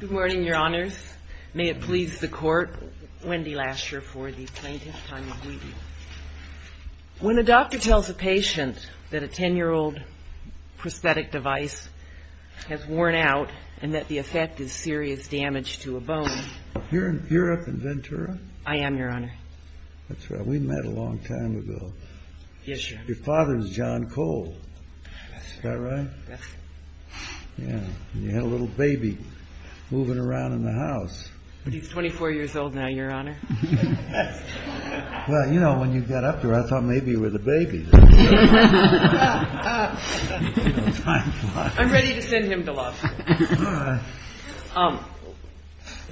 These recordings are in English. Good morning, Your Honors. May it please the Court, Wendy Lasher for the plaintiff, Tanya Guidi. When a doctor tells a patient that a ten-year-old prosthetic device has worn out and that the effect is serious damage to a bone... You're up in Ventura? I am, Your Honor. That's right. We met a long time ago. Yes, Your Honor. Your father was John Cole. That's right. Is that right? That's right. And you had a little baby moving around in the house. He's 24 years old now, Your Honor. Well, you know, when you got up there, I thought maybe you were the baby. I'm ready to send him to law school. All right.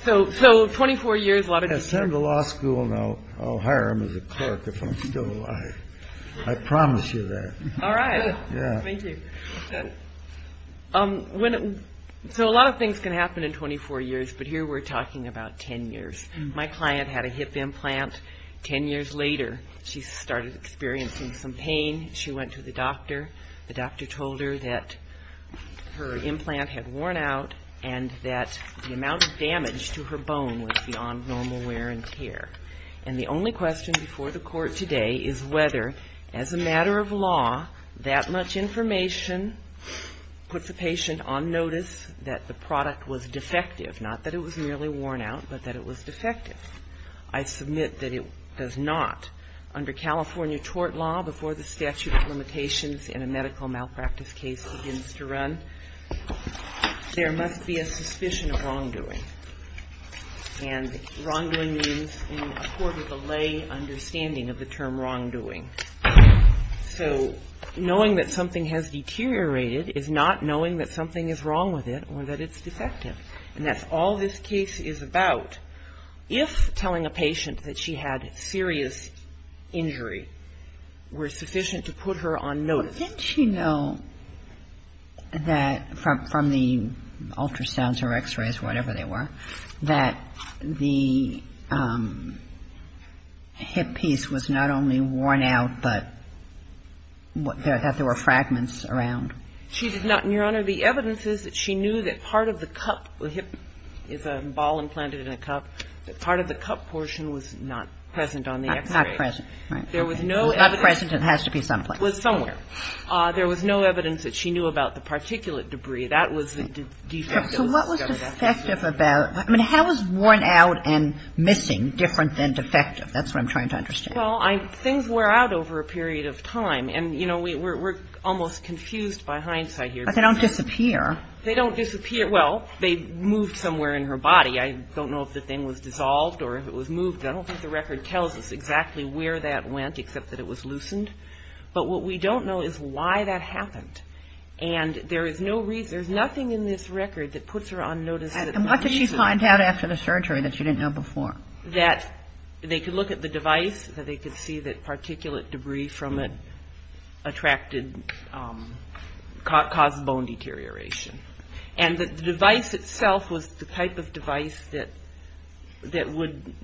So, 24 years, a lot of... Send him to law school and I'll hire him as a clerk if I'm still alive. I promise you that. All right. Yeah. Thank you. So a lot of things can happen in 24 years, but here we're talking about ten years. My client had a hip implant. Ten years later, she started experiencing some pain. She went to the doctor. The doctor told her that her implant had worn out and that the amount of damage to her bone was beyond normal wear and tear. And the only question before the court today is whether, as a matter of law, that much information puts a patient on notice that the product was defective, not that it was merely worn out, but that it was defective. I submit that it does not. Under California tort law, before the statute of limitations and a medical malpractice case begins to run, there must be a suspicion of wrongdoing. And wrongdoing means in a court of the lay understanding of the term wrongdoing. So knowing that something has deteriorated is not knowing that something is wrong with it or that it's defective. And that's all this case is about. If telling a patient that she had serious injury were sufficient to put her on notice. Didn't she know that from the ultrasounds or x-rays or whatever they were, that the hip piece was not only worn out, but that there were fragments around? She did not, Your Honor. The evidence is that she knew that part of the cup, the hip is a ball implanted in a cup, that part of the cup portion was not present on the x-ray. Not present, right. There was no evidence. Not present, it has to be someplace. It was somewhere. There was no evidence that she knew about the particulate debris. That was the defective. I mean, how is worn out and missing different than defective? That's what I'm trying to understand. Well, things wear out over a period of time. And, you know, we're almost confused by hindsight here. But they don't disappear. They don't disappear. Well, they moved somewhere in her body. I don't know if the thing was dissolved or if it was moved. I don't think the record tells us exactly where that went, except that it was loosened. But what we don't know is why that happened. And there is no reason, there's nothing in this record that puts her on notice. And what did she find out after the surgery that she didn't know before? That they could look at the device, that they could see that particulate debris from it attracted, caused bone deterioration. And the device itself was the type of device that would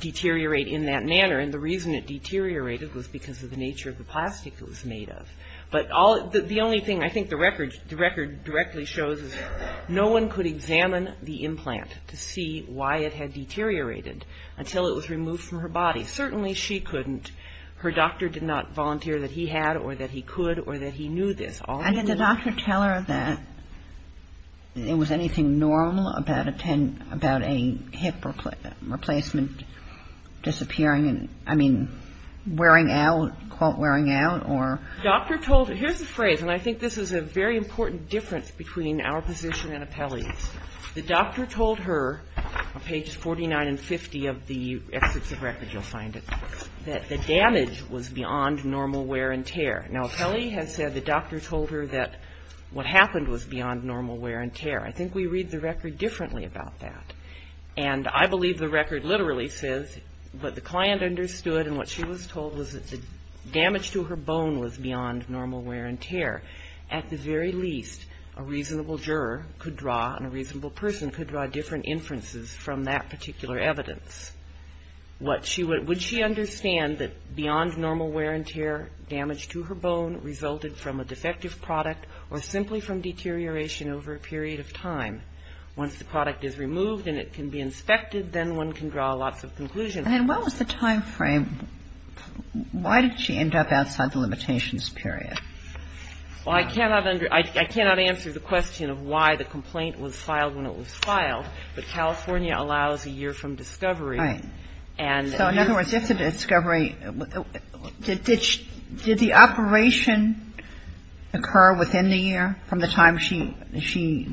deteriorate in that manner. And the reason it deteriorated was because of the nature of the plastic it was made of. But the only thing I think the record directly shows is no one could examine the implant to see why it had deteriorated until it was removed from her body. Certainly she couldn't. Her doctor did not volunteer that he had or that he could or that he knew this. Did the doctor tell her that there was anything normal about a hip replacement disappearing? I mean, wearing out, quote, wearing out? Here's a phrase, and I think this is a very important difference between our position and Apelli's. The doctor told her, on pages 49 and 50 of the Excerpts of Records, you'll find it, that the damage was beyond normal wear and tear. Now, Apelli has said the doctor told her that what happened was beyond normal wear and tear. I think we read the record differently about that. And I believe the record literally says what the client understood and what she was told was that the damage to her bone was beyond normal wear and tear. At the very least, a reasonable juror could draw and a reasonable person could draw different inferences from that particular evidence. Would she understand that beyond normal wear and tear, damage to her bone resulted from a defective product or simply from deterioration over a period of time? Once the product is removed and it can be inspected, then one can draw lots of conclusions. And what was the time frame? Why did she end up outside the limitations period? Well, I cannot answer the question of why the complaint was filed when it was filed, but California allows a year from discovery. Right. So in other words, if the discovery – did the operation occur within the year from the time she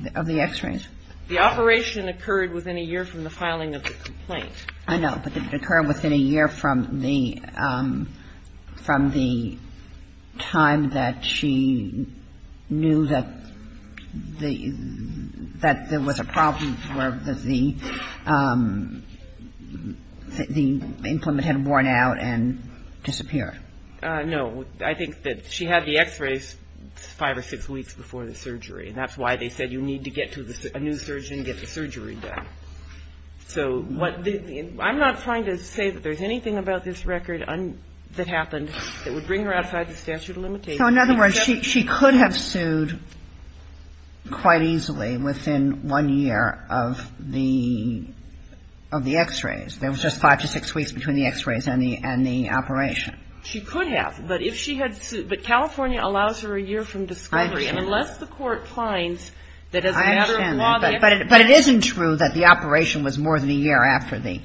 – of the x-rays? The operation occurred within a year from the filing of the complaint. I know. But did it occur within a year from the – from the time that she knew that the – that there was a problem or that the implement had worn out and disappeared? No. I think that she had the x-rays five or six weeks before the surgery, and that's why they said you need to get to a new surgeon and get the surgery done. So what – I'm not trying to say that there's anything about this record that happened that would bring her outside the statute of limitations. So in other words, she could have sued quite easily within one year of the – of the x-rays. There was just five to six weeks between the x-rays and the – and the operation. She could have. But if she had sued – but California allows her a year from discovery. I understand that. But it isn't true that the operation was more than a year after the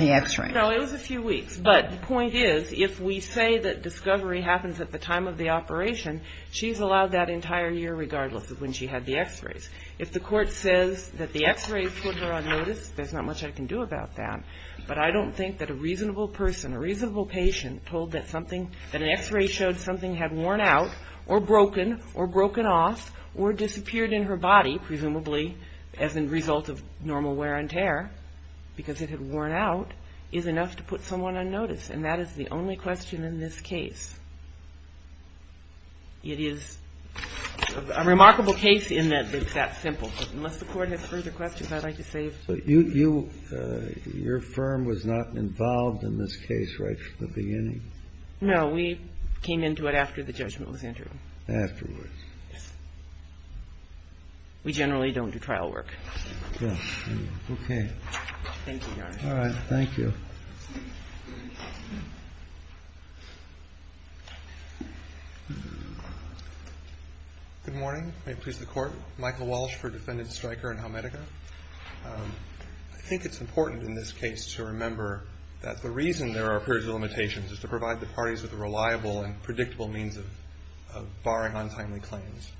x-ray. No, it was a few weeks. But the point is, if we say that discovery happens at the time of the operation, she's allowed that entire year regardless of when she had the x-rays. If the court says that the x-rays put her on notice, there's not much I can do about that. But I don't think that a reasonable person, a reasonable patient, told that something – that an x-ray showed something had worn out or broken or broken off or disappeared in her body, presumably as a result of normal wear and tear because it had worn out, is enough to put someone on notice. And that is the only question in this case. It is a remarkable case in that it's that simple. But unless the Court has further questions, I'd like to save. So you – your firm was not involved in this case right from the beginning? No. We came into it after the judgment was entered. Afterwards. Yes. We generally don't do trial work. Okay. Thank you, Your Honor. All right. Thank you. Good morning. May it please the Court. Michael Walsh for Defendant Stryker and Helmetica. I think it's important in this case to remember that the reason there are periods of limitations is to provide the parties with a reliable and predictable means of barring untimely claims.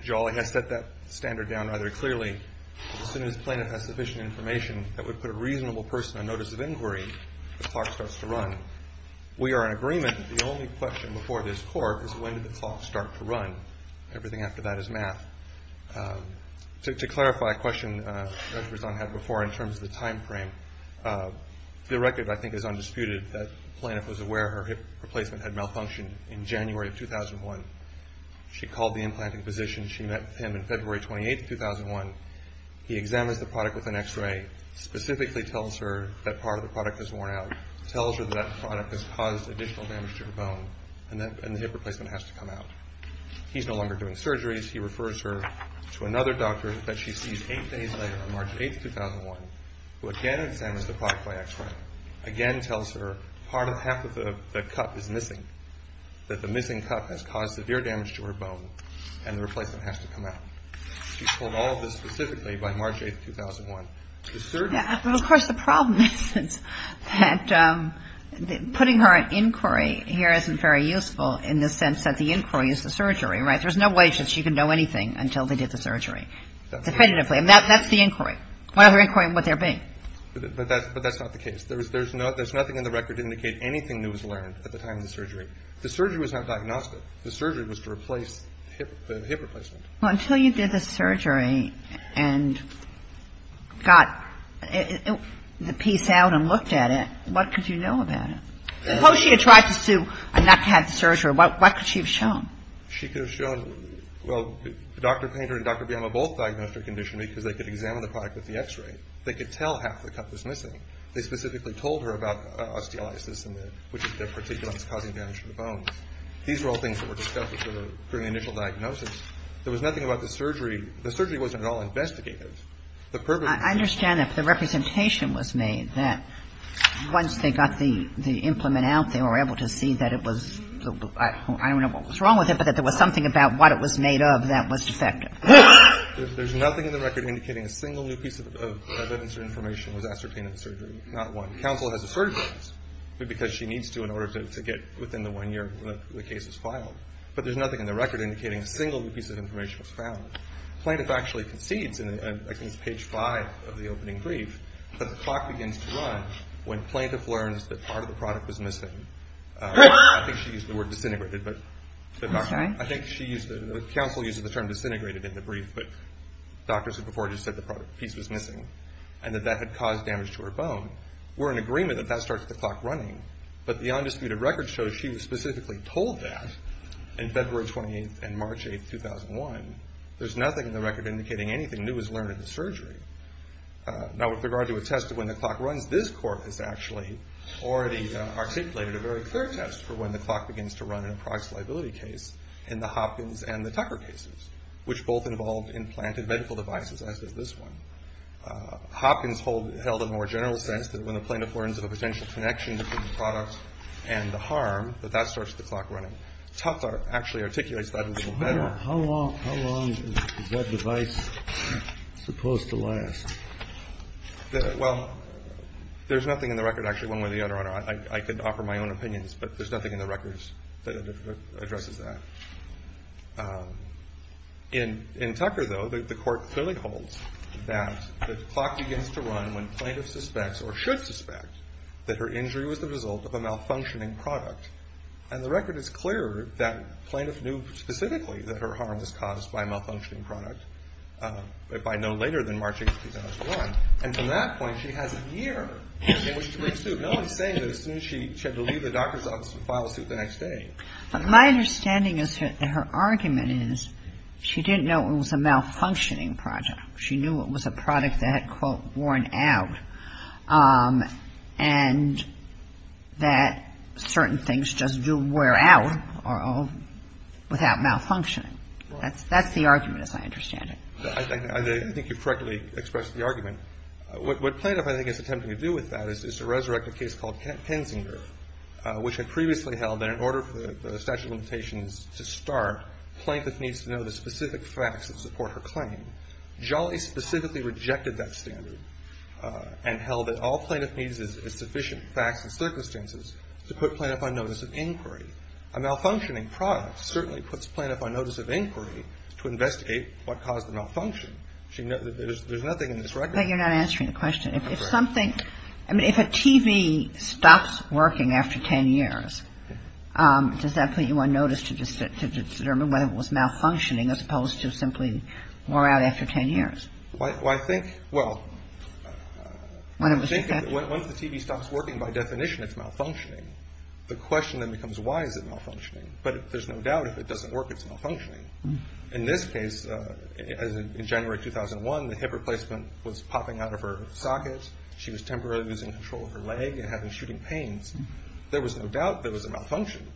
Jolly has set that standard down rather clearly. As soon as plaintiff has sufficient information that would put a reasonable person on notice of inquiry, the clock starts to run. We are in agreement that the only question before this Court is when did the clock start to run. Everything after that is math. To clarify a question Judge Berzon had before in terms of the timeframe, the record I think is undisputed that plaintiff was aware her hip replacement had malfunctioned in January of 2001. She called the implanting physician. She met with him in February 28, 2001. He examines the product with an x-ray, specifically tells her that part of the product has worn out, tells her that that product has caused additional damage to her bone, and the hip replacement has to come out. He's no longer doing surgeries. He refers her to another doctor that she sees eight days later on March 8, 2001, who again examines the product by x-ray, again tells her half of the cup is missing, that the missing cup has caused severe damage to her bone, and the replacement has to come out. She's told all of this specifically by March 8, 2001. But of course the problem is that putting her in inquiry here isn't very useful in the sense that the inquiry is the surgery, right? There's no way that she could know anything until they did the surgery definitively. That's the inquiry. What other inquiry would there be? But that's not the case. There's nothing in the record to indicate anything that was learned at the time of the surgery. The surgery was not diagnosed. The surgery was to replace the hip replacement. Well, until you did the surgery and got the piece out and looked at it, what could you know about it? Suppose she had tried to sue and not had the surgery. What could she have shown? She could have shown, well, Dr. Painter and Dr. Biama both diagnosed her condition because they could examine the product with the X-ray. They could tell half the cup was missing. They specifically told her about osteolysis, which is the particular that's causing damage to the bones. These were all things that were discussed during the initial diagnosis. There was nothing about the surgery. The surgery wasn't at all investigative. The purpose of the surgery was to make sure that there was nothing in the record. I understand that the representation was made that once they got the implement out, they were able to see that it was, I don't know what was wrong with it, but that there was something about what it was made of that was defective. There's nothing in the record indicating a single new piece of evidence or information was ascertained in the surgery. Not one. Counsel has asserted those because she needs to in order to get within the one year when the case is filed, but there's nothing in the record indicating a single new piece of information was found. Plaintiff actually concedes, and I think it's page five of the opening brief, that the clock begins to run when plaintiff learns that part of the product was missing. I think she used the word disintegrated, but I think she used it. Counsel used the term disintegrated in the brief, but doctors had before just said the piece was missing and that that had caused damage to her bone. We're in agreement that that starts the clock running, but the undisputed record shows she was specifically told that in February 28th and March 8th, 2001. There's nothing in the record indicating anything new was learned in the surgery. Now with regard to a test of when the clock runs, this court has actually already articulated a very clear test for when the clock begins to run in a price liability case in the Hopkins and the Tucker cases, which both involved implanted medical devices, as does this one. Hopkins held a more general sense that when the plaintiff learns of a potential connection between the product and the harm, that that starts the clock running. Tucker actually articulates that a little better. Kennedy. How long is that device supposed to last? Well, there's nothing in the record, actually, one way or the other. I could offer my own opinions, but there's nothing in the records that addresses that. In Tucker, though, the court clearly holds that the clock begins to run when plaintiff suspects or should suspect that her injury was the result of a malfunctioning product. And the record is clear that plaintiff knew specifically that her harm was caused by a malfunctioning product by no later than March 8th, 2001. And from that point, she has a year in which to pursue. But no one's saying that as soon as she had to leave the doctor's office and file a suit the next day. But my understanding is that her argument is she didn't know it was a malfunctioning product. She knew it was a product that had, quote, worn out and that certain things just do wear out without malfunctioning. That's the argument, as I understand it. I think you've correctly expressed the argument. What plaintiff, I think, is attempting to do with that is to resurrect a case called Kensinger, which had previously held that in order for the statute of limitations to start, plaintiff needs to know the specific facts that support her claim. Jolly specifically rejected that standard and held that all plaintiff needs is sufficient facts and circumstances to put plaintiff on notice of inquiry. A malfunctioning product certainly puts plaintiff on notice of inquiry to investigate what caused the malfunction. There's nothing in this record. But you're not answering the question. If something, I mean, if a TV stops working after 10 years, does that put you on notice to determine whether it was malfunctioning as opposed to simply wore out after 10 years? Well, I think, well, once the TV stops working, by definition, it's malfunctioning. The question then becomes why is it malfunctioning. But there's no doubt if it doesn't work, it's malfunctioning. In this case, as in January 2001, the hip replacement was popping out of her socket. She was temporarily losing control of her leg and having shooting pains. There was no doubt there was a malfunction.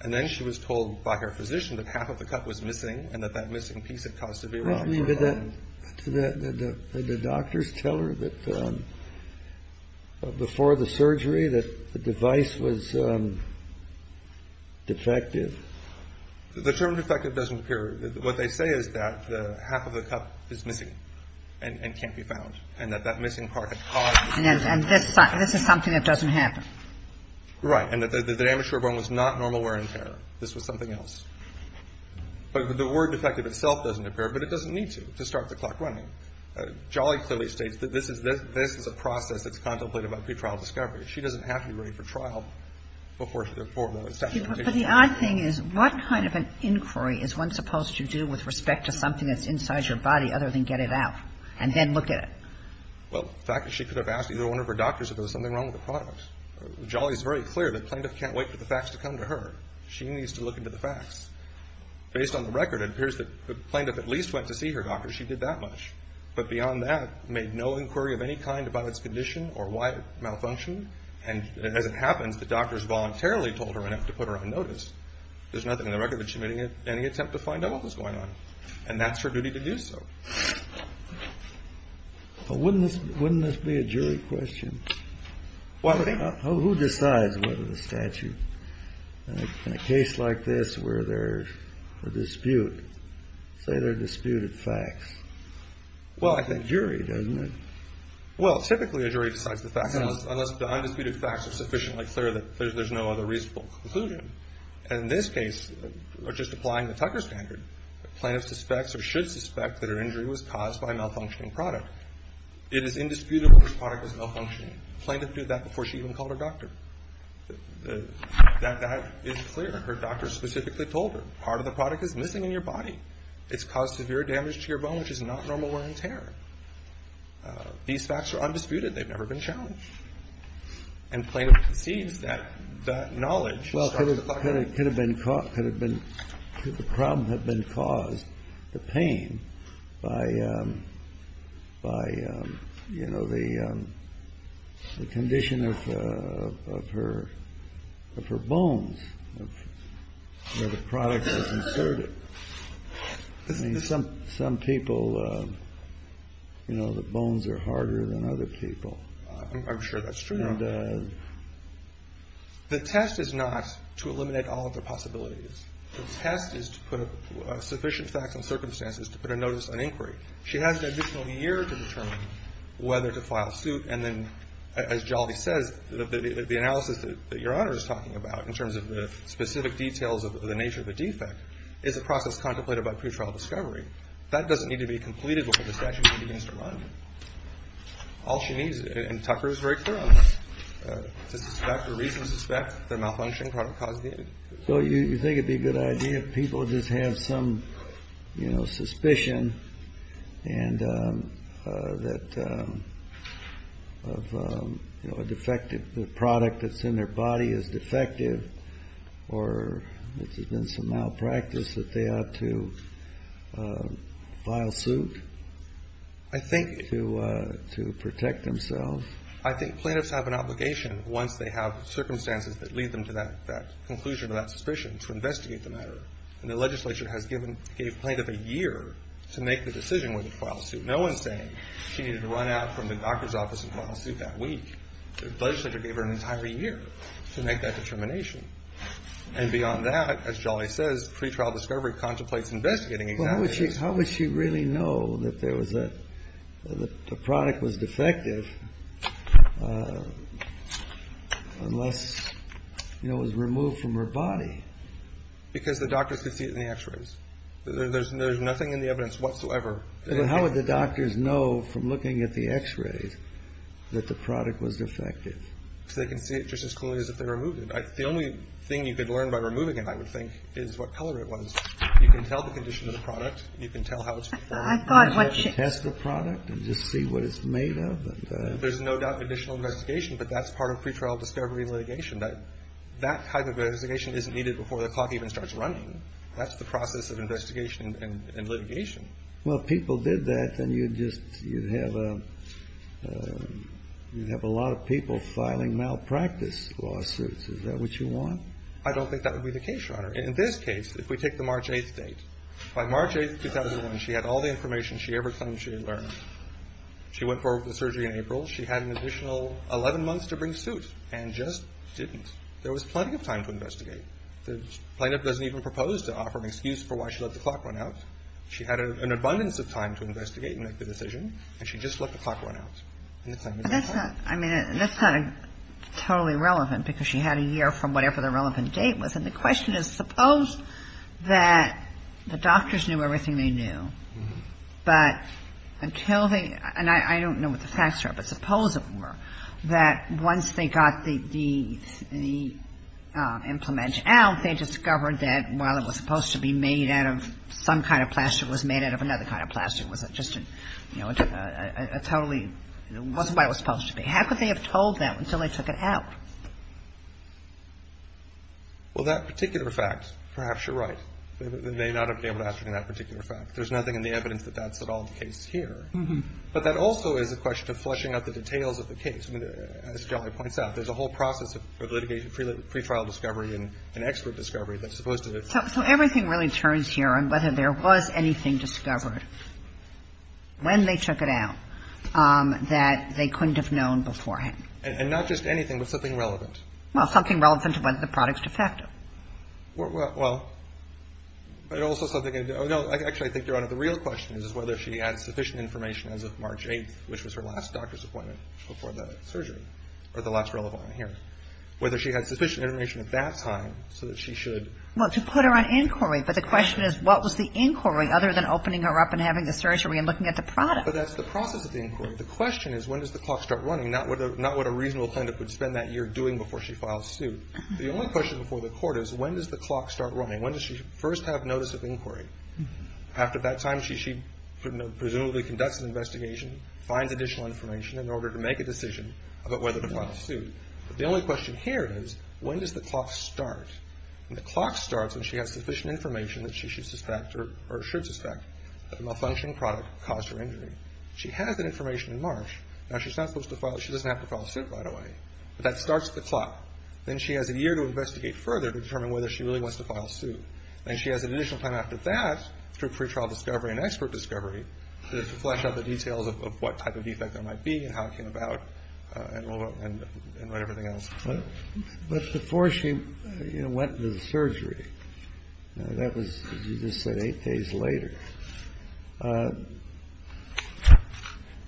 And then she was told by her physician that half of the cut was missing and that that missing piece had caused severe malfunction. Did the doctors tell her that before the surgery that the device was defective? The term defective doesn't appear. What they say is that the half of the cut is missing and can't be found and that that missing part had caused the malfunction. And this is something that doesn't happen. Right. And that the damage to her bone was not normal wear and tear. This was something else. But the word defective itself doesn't appear, but it doesn't need to, to start the clock running. Jolly clearly states that this is a process that's contemplated by pretrial discovery. She doesn't have to be ready for trial before the session begins. But the odd thing is, what kind of an inquiry is one supposed to do with respect to something that's inside your body other than get it out and then look at it? Well, the fact is she could have asked either one of her doctors if there was something wrong with the product. Jolly is very clear that plaintiff can't wait for the facts to come to her. She needs to look into the facts. Based on the record, it appears that the plaintiff at least went to see her doctor. She did that much. But beyond that, made no inquiry of any kind about its condition or why it malfunctioned. And as it happens, the doctors voluntarily told her enough to put her on notice. There's nothing in the record that she made any attempt to find out what was going on. And that's her duty to do so. But wouldn't this be a jury question? Who decides whether the statute, in a case like this where there's a dispute, say they're disputed facts? Well, I think jury, doesn't it? Well, typically a jury decides the facts unless the undisputed facts are sufficiently clear that there's no other reasonable conclusion. And in this case, just applying the Tucker standard, the plaintiff suspects or should suspect that her injury was caused by a malfunctioning product. It is indisputable this product was malfunctioning. The plaintiff did that before she even called her doctor. That is clear. Her doctor specifically told her part of the product is missing in your body. It's caused severe damage to your bone, which is not normal wear and tear. These facts are undisputed. They've never been challenged. And plaintiff perceives that that knowledge. Well, it could have been caught could have been the problem have been caused the pain by by, you know, the condition of her of her bones. The product is inserted. Some some people, you know, the bones are harder than other people. I'm sure that's true. And the test is not to eliminate all of the possibilities. The test is to put sufficient facts and circumstances to put a notice on inquiry. She has an additional year to determine whether to file suit. And then, as Jolvie says, the analysis that your honor is talking about in terms of the specific details of the nature of the defect is a process contemplated by pretrial discovery. That doesn't need to be completed before the statute begins to run. All she needs and Tucker's right to suspect the reason, suspect the malfunction caused. So you think it'd be a good idea if people just have some suspicion and that a defective product that's in their body is defective or there's been some malpractice that they ought to file suit. I think to to protect themselves. I think plaintiffs have an obligation once they have circumstances that lead them to that conclusion of that suspicion to investigate the matter. And the legislature has given gave plaintiff a year to make the decision whether to file suit. No one's saying she needed to run out from the doctor's office and file suit that week. The legislature gave her an entire year to make that determination. And beyond that, as Jolvie says, pretrial discovery contemplates investigating. How would she really know that there was a product was defective unless it was removed from her body? Because the doctors could see it in the x-rays. There's nothing in the evidence whatsoever. How would the doctors know from looking at the x-rays that the product was defective? They can see it just as clearly as if they removed it. The only thing you could learn by removing it, I would think, is what color it was. You can tell the condition of the product. You can tell how it's performed. You can test the product and just see what it's made of. There's no doubt additional investigation, but that's part of pretrial discovery litigation. That type of investigation isn't needed before the clock even starts running. That's the process of investigation and litigation. Well, if people did that, then you'd just, you'd have a lot of people filing malpractice lawsuits. Is that what you want? I don't think that would be the case, Your Honor. In this case, if we take the March 8th date, by March 8th, 2001, she had all the information she ever claimed she had learned. She went for the surgery in April. She had an additional 11 months to bring suit and just didn't. There was plenty of time to investigate. The plaintiff doesn't even propose to offer an excuse for why she let the clock run out. She had an abundance of time to investigate and make the decision, and she just let the clock run out. That's not totally relevant because she had a year from whatever the relevant date was. And the question is, suppose that the doctors knew everything they knew, but until they – and I don't know what the facts are, but suppose it were – that once they got the implementation out, they discovered that while it was supposed to be made out of some kind of plaster, it was made out of another kind of plaster. It wasn't just a totally – it wasn't what it was supposed to be. How could they have told them until they took it out? Well, that particular fact, perhaps you're right. They may not have been able to ascertain that particular fact. There's nothing in the evidence that that's at all the case here. But that also is a question of fleshing out the details of the case. As Jolly points out, there's a whole process of litigation, pre-trial discovery and expert discovery that's supposed to – So everything really turns here on whether there was anything discovered when they took it out that they couldn't have known beforehand. And not just anything, but something relevant. Well, something relevant to whether the product's defective. Well, but also something – no, actually, I think, Your Honor, the real question is whether she had sufficient information as of March 8th, which was her last doctor's appointment before the surgery, or the last relevant one here. Whether she had sufficient information at that time so that she should – Well, to put her on inquiry, but the question is what was the inquiry other than opening her up and having the surgery and looking at the product? But that's the process of the inquiry. The question is when does the clock start running, not what a reasonable plaintiff would spend that year doing before she files suit. The only question before the court is when does the clock start running? When does she first have notice of inquiry? After that time, she presumably conducts an investigation, finds additional information in order to make a decision about whether to file suit. But the only question here is when does the clock start? And the clock starts when she has sufficient information that she should suspect or should suspect that the malfunctioning product caused her injury. She has that information in March. Now, she's not supposed to file – she doesn't have to file suit, by the way. But that starts the clock. Then she has a year to investigate further to determine whether she really wants to file suit. And she has an additional time after that through pre-trial discovery and expert discovery to flesh out the details of what type of defect there might be and how it came about and what everything else is. But before she went into the surgery, that was, as you just said, eight days later,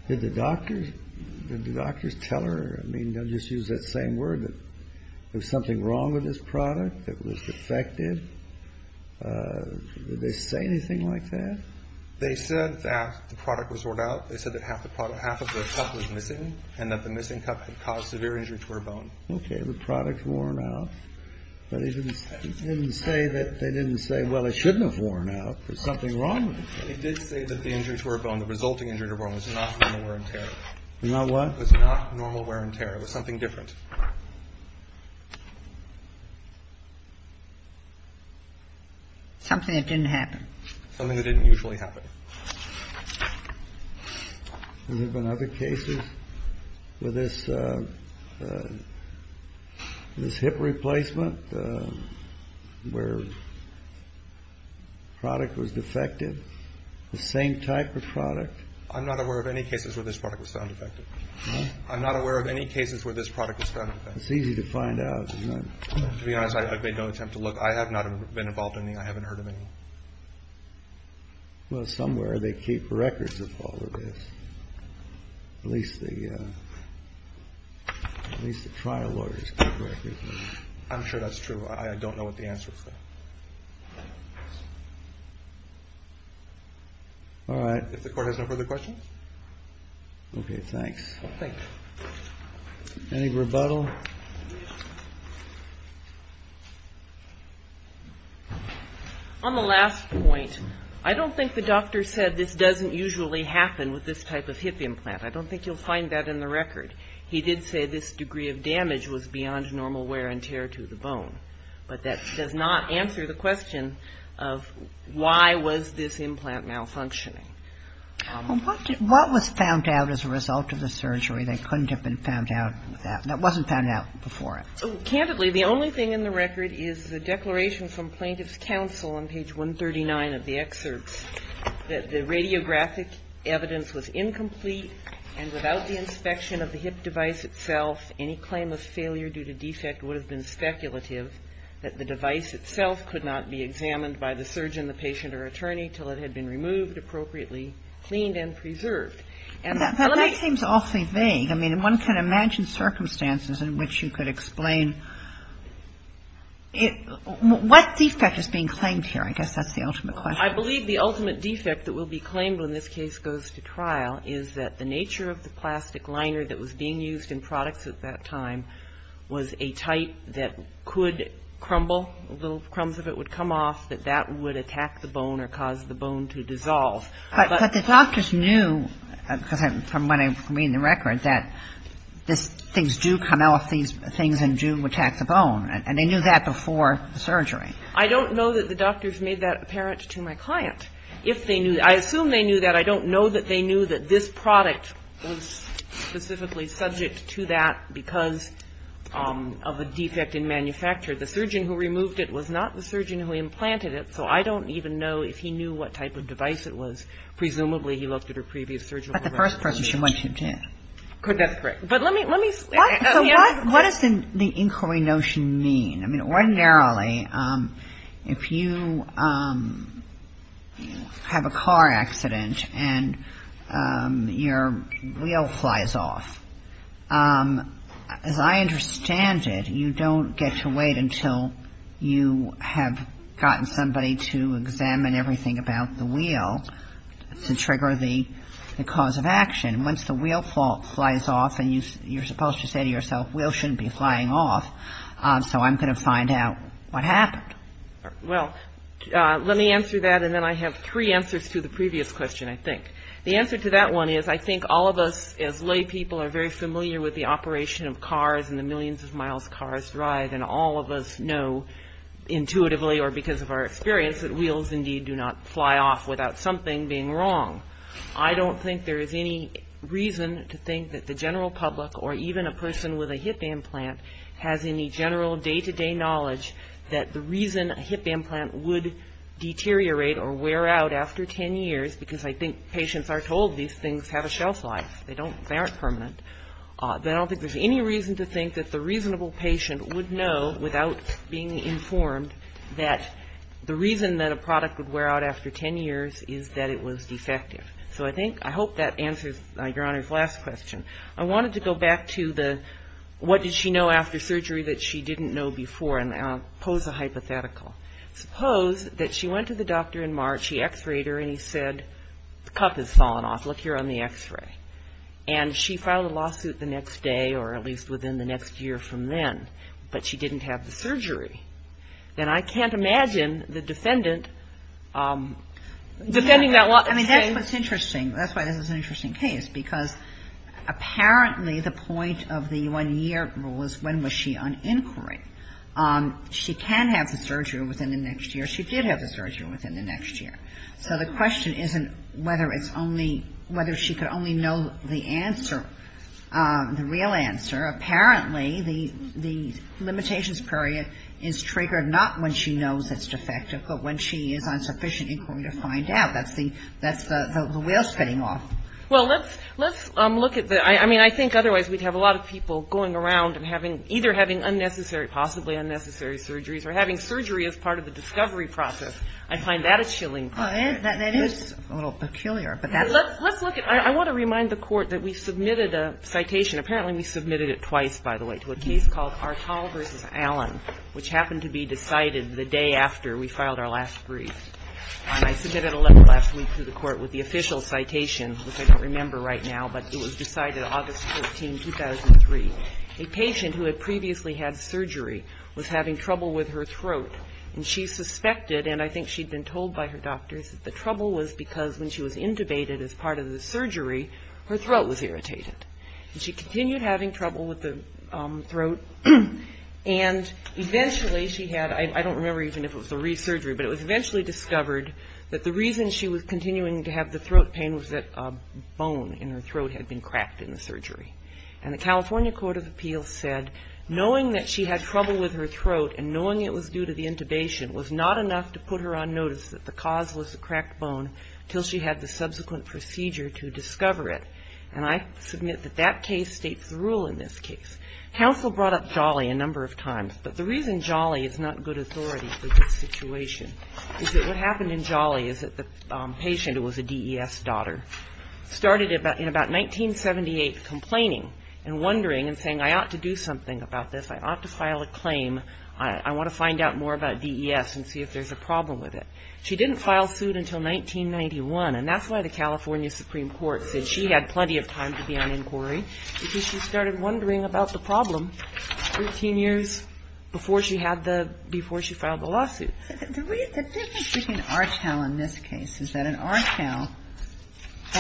did the doctors tell her, I mean, don't just use that same word, that there was something wrong with this product that was defective? Did they say anything like that? They said that the product was worn out. They said that half of the cup was missing and that the missing cup had caused severe injury to her bone. Okay. The product's worn out. But they didn't say that – they didn't say, well, it shouldn't have worn out. There's something wrong with it. They did say that the injury to her bone, the resulting injury to her bone, was not wear and tear. Not what? It was not normal wear and tear. It was something different. Something that didn't happen. Something that didn't usually happen. Has there been other cases where this hip replacement, where the product was defective, the same type of product? I'm not aware of any cases where this product was found defective. I'm not aware of any cases where this product was found defective. It's easy to find out, isn't it? To be honest, I've made no attempt to look. I have not been involved in any. I haven't heard of any. Well, somewhere they keep records of all of this. At least the trial lawyers keep records. I'm sure that's true. I don't know what the answer is. All right. If the Court has no further questions. Okay. Thanks. Thank you. Any rebuttal? On the last point, I don't think the doctor said this doesn't usually happen with this type of hip implant. I don't think you'll find that in the record. He did say this degree of damage was beyond normal wear and tear to the bone. But that does not answer the question of why was this implant malfunctioning. Well, what was found out as a result of the surgery that couldn't have been found out? That wasn't found out before it. Candidly, the only thing in the record is the declaration from Plaintiff's Counsel on page 139 of the excerpts that the radiographic evidence was incomplete and without the inspection of the hip device itself, any claim of failure due to defect would have been speculative, that the device itself could not be examined by the surgeon, the patient, or attorney until it had been removed appropriately, cleaned, and preserved. And let me ---- That seems awfully vague. I mean, one can imagine circumstances in which you could explain it. What defect is being claimed here? I guess that's the ultimate question. I believe the ultimate defect that will be claimed when this case goes to trial is that the nature of the plastic liner that was being used in products at that time was a type that could crumble, little crumbs of it would come off, that that would attack the bone or cause the bone to dissolve. But the doctors knew, from what I read in the record, that these things do come off these things and do attack the bone. And they knew that before the surgery. I don't know that the doctors made that apparent to my client. If they knew, I assume they knew that. I don't know that they knew that this product was specifically subject to that because of a defect in manufacture. The surgeon who removed it was not the surgeon who implanted it, so I don't even know if he knew what type of device it was. Presumably he looked at her previous surgery. But the first person she went to did. That's correct. But let me, let me. So what does the inquiry notion mean? I mean, ordinarily, if you have a car accident and your wheel flies off, as I understand it, you don't get to wait until you have gotten somebody to examine everything about the wheel to trigger the cause of action. Once the wheel flies off, and you're supposed to say to yourself, wheel shouldn't be flying off, so I'm going to find out what happened. Well, let me answer that, and then I have three answers to the previous question, I think. The answer to that one is I think all of us, as lay people, are very familiar with the operation of cars and the millions of miles cars drive, and all of us know intuitively or because of our experience that wheels, indeed, do not fly off without something being wrong. I don't think there is any reason to think that the general public or even a person with a hip implant has any general day-to-day knowledge that the reason a hip implant would deteriorate or wear out after 10 years, because I think patients are told these things have a shelf life, they don't, they aren't permanent, I don't think there's any reason to think that the reasonable patient would know without being informed that the reason that a product would wear out after 10 years is that it was defective. So I think, I hope that answers Your Honor's last question. I wanted to go back to the what did she know after surgery that she didn't know before, and I'll pose a hypothetical. Suppose that she went to the doctor in March, she x-rayed her, and he said, the cup has fallen off, look here on the x-ray, and she filed a lawsuit the next day or at least within the next year from then, but she didn't have the surgery. Then I can't imagine the defendant defending that law. I mean, that's what's interesting. That's why this is an interesting case, because apparently the point of the one-year rule is when was she on inquiry. She can have the surgery within the next year. She did have the surgery within the next year. So the question isn't whether it's only, whether she could only know the answer, the real answer. Apparently the limitations period is triggered not when she knows it's defective, but when she is on sufficient inquiry to find out. That's the wheel spinning off. Well, let's look at the, I mean, I think otherwise we'd have a lot of people going around and either having unnecessary, possibly unnecessary surgeries, or having surgery as part of the discovery process. I find that a chilling point. That is a little peculiar. Let's look at, I want to remind the Court that we submitted a citation. Apparently we submitted it twice, by the way, to a case called Artaul v. Allen, which happened to be decided the day after we filed our last brief. And I submitted a letter last week to the Court with the official citation, which I don't remember right now, but it was decided August 13, 2003. A patient who had previously had surgery was having trouble with her throat, and she suspected, and I think she'd been told by her doctors, that the trouble was because when she was intubated as part of the surgery, her throat was irritated. And she continued having trouble with the throat, and eventually she had, I don't remember even if it was a re-surgery, but it was eventually discovered that the reason she was continuing to have the throat pain was that a bone in her throat had been cracked in the surgery. And the California Court of Appeals said, knowing that she had trouble with her throat and knowing it was due to the intubation was not enough to put her on notice that the cause was the cracked bone until she had the subsequent procedure to discover it. And I submit that that case states the rule in this case. Counsel brought up Jolly a number of times, but the reason Jolly is not good authority for this situation is that what happened in Jolly is that the patient, who was a DES daughter, started in about 1978 complaining and wondering and saying, I ought to do something about this. I ought to file a claim. I want to find out more about DES and see if there's a problem with it. She didn't file suit until 1991, and that's why the California Supreme Court said she had plenty of time to be on inquiry because she started wondering about the problem 13 years before she filed the lawsuit. The difference between Archell and this case is that in Archell,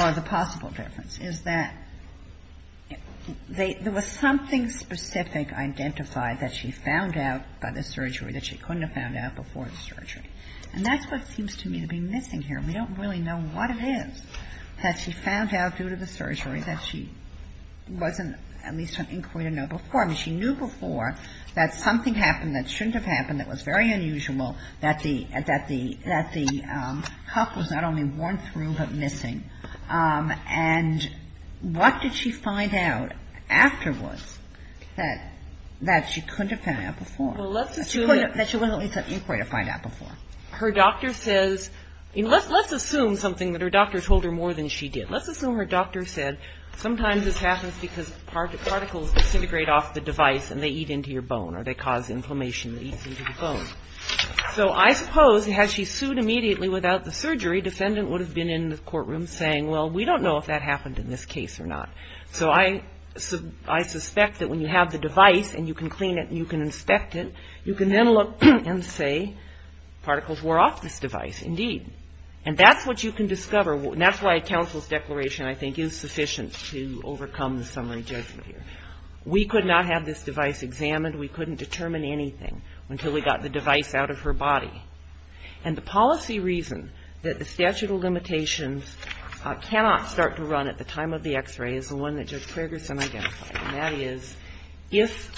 or the possible difference, is that there was something specific identified that she found out by the surgery that she couldn't have found out before the surgery. And that's what seems to me to be missing here. We don't really know what it is that she found out due to the surgery that she wasn't at least on inquiry to know before. I mean, she knew before that something happened that shouldn't have happened that was very unusual, that the cuff was not only worn through but missing. And what did she find out afterwards that she couldn't have found out before, that she wasn't at least on inquiry to find out before? Her doctor says, let's assume something that her doctor told her more than she did. Let's assume her doctor said, sometimes this happens because particles disintegrate off the device and they eat into your bone or they cause inflammation that eats into the bone. So I suppose had she sued immediately without the surgery, defendant would have been in the courtroom saying, well, we don't know if that happened in this case or not. So I suspect that when you have the device and you can clean it and you can inspect it, you can then look and say, particles wore off this device, indeed. And that's what you can discover, and that's why a counsel's declaration I think is sufficient to overcome the summary judgment here. We could not have this device examined. We couldn't determine anything until we got the device out of her body. And the policy reason that the statute of limitations cannot start to run at the time of the X-ray is the one that Judge Fragerson identified, and that is if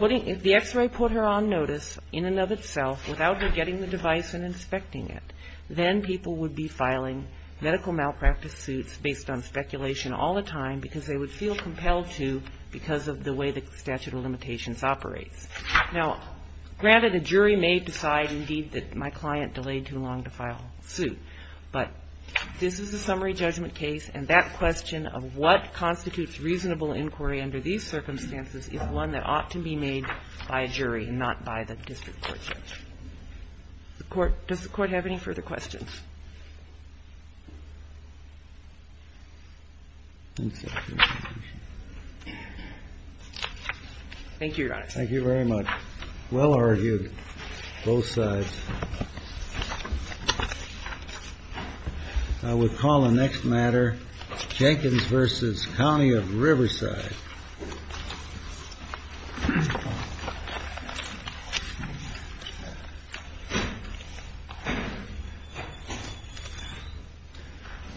the X-ray put her on notice in and of itself without her getting the device and inspecting it, then people would be filing medical malpractice suits based on speculation all the time because they would feel compelled to because of the way the statute of limitations operates. Now, granted, a jury may decide, indeed, that my client delayed too long to file a suit, but this is a summary judgment case, and that question of what constitutes reasonable inquiry under these circumstances is one that ought to be made by a jury and not by the district court judge. Does the Court have any further questions? Thank you, Your Honor. Thank you very much. Well argued, both sides. I would call the next matter Jenkins v. County of Riverside. Thank you.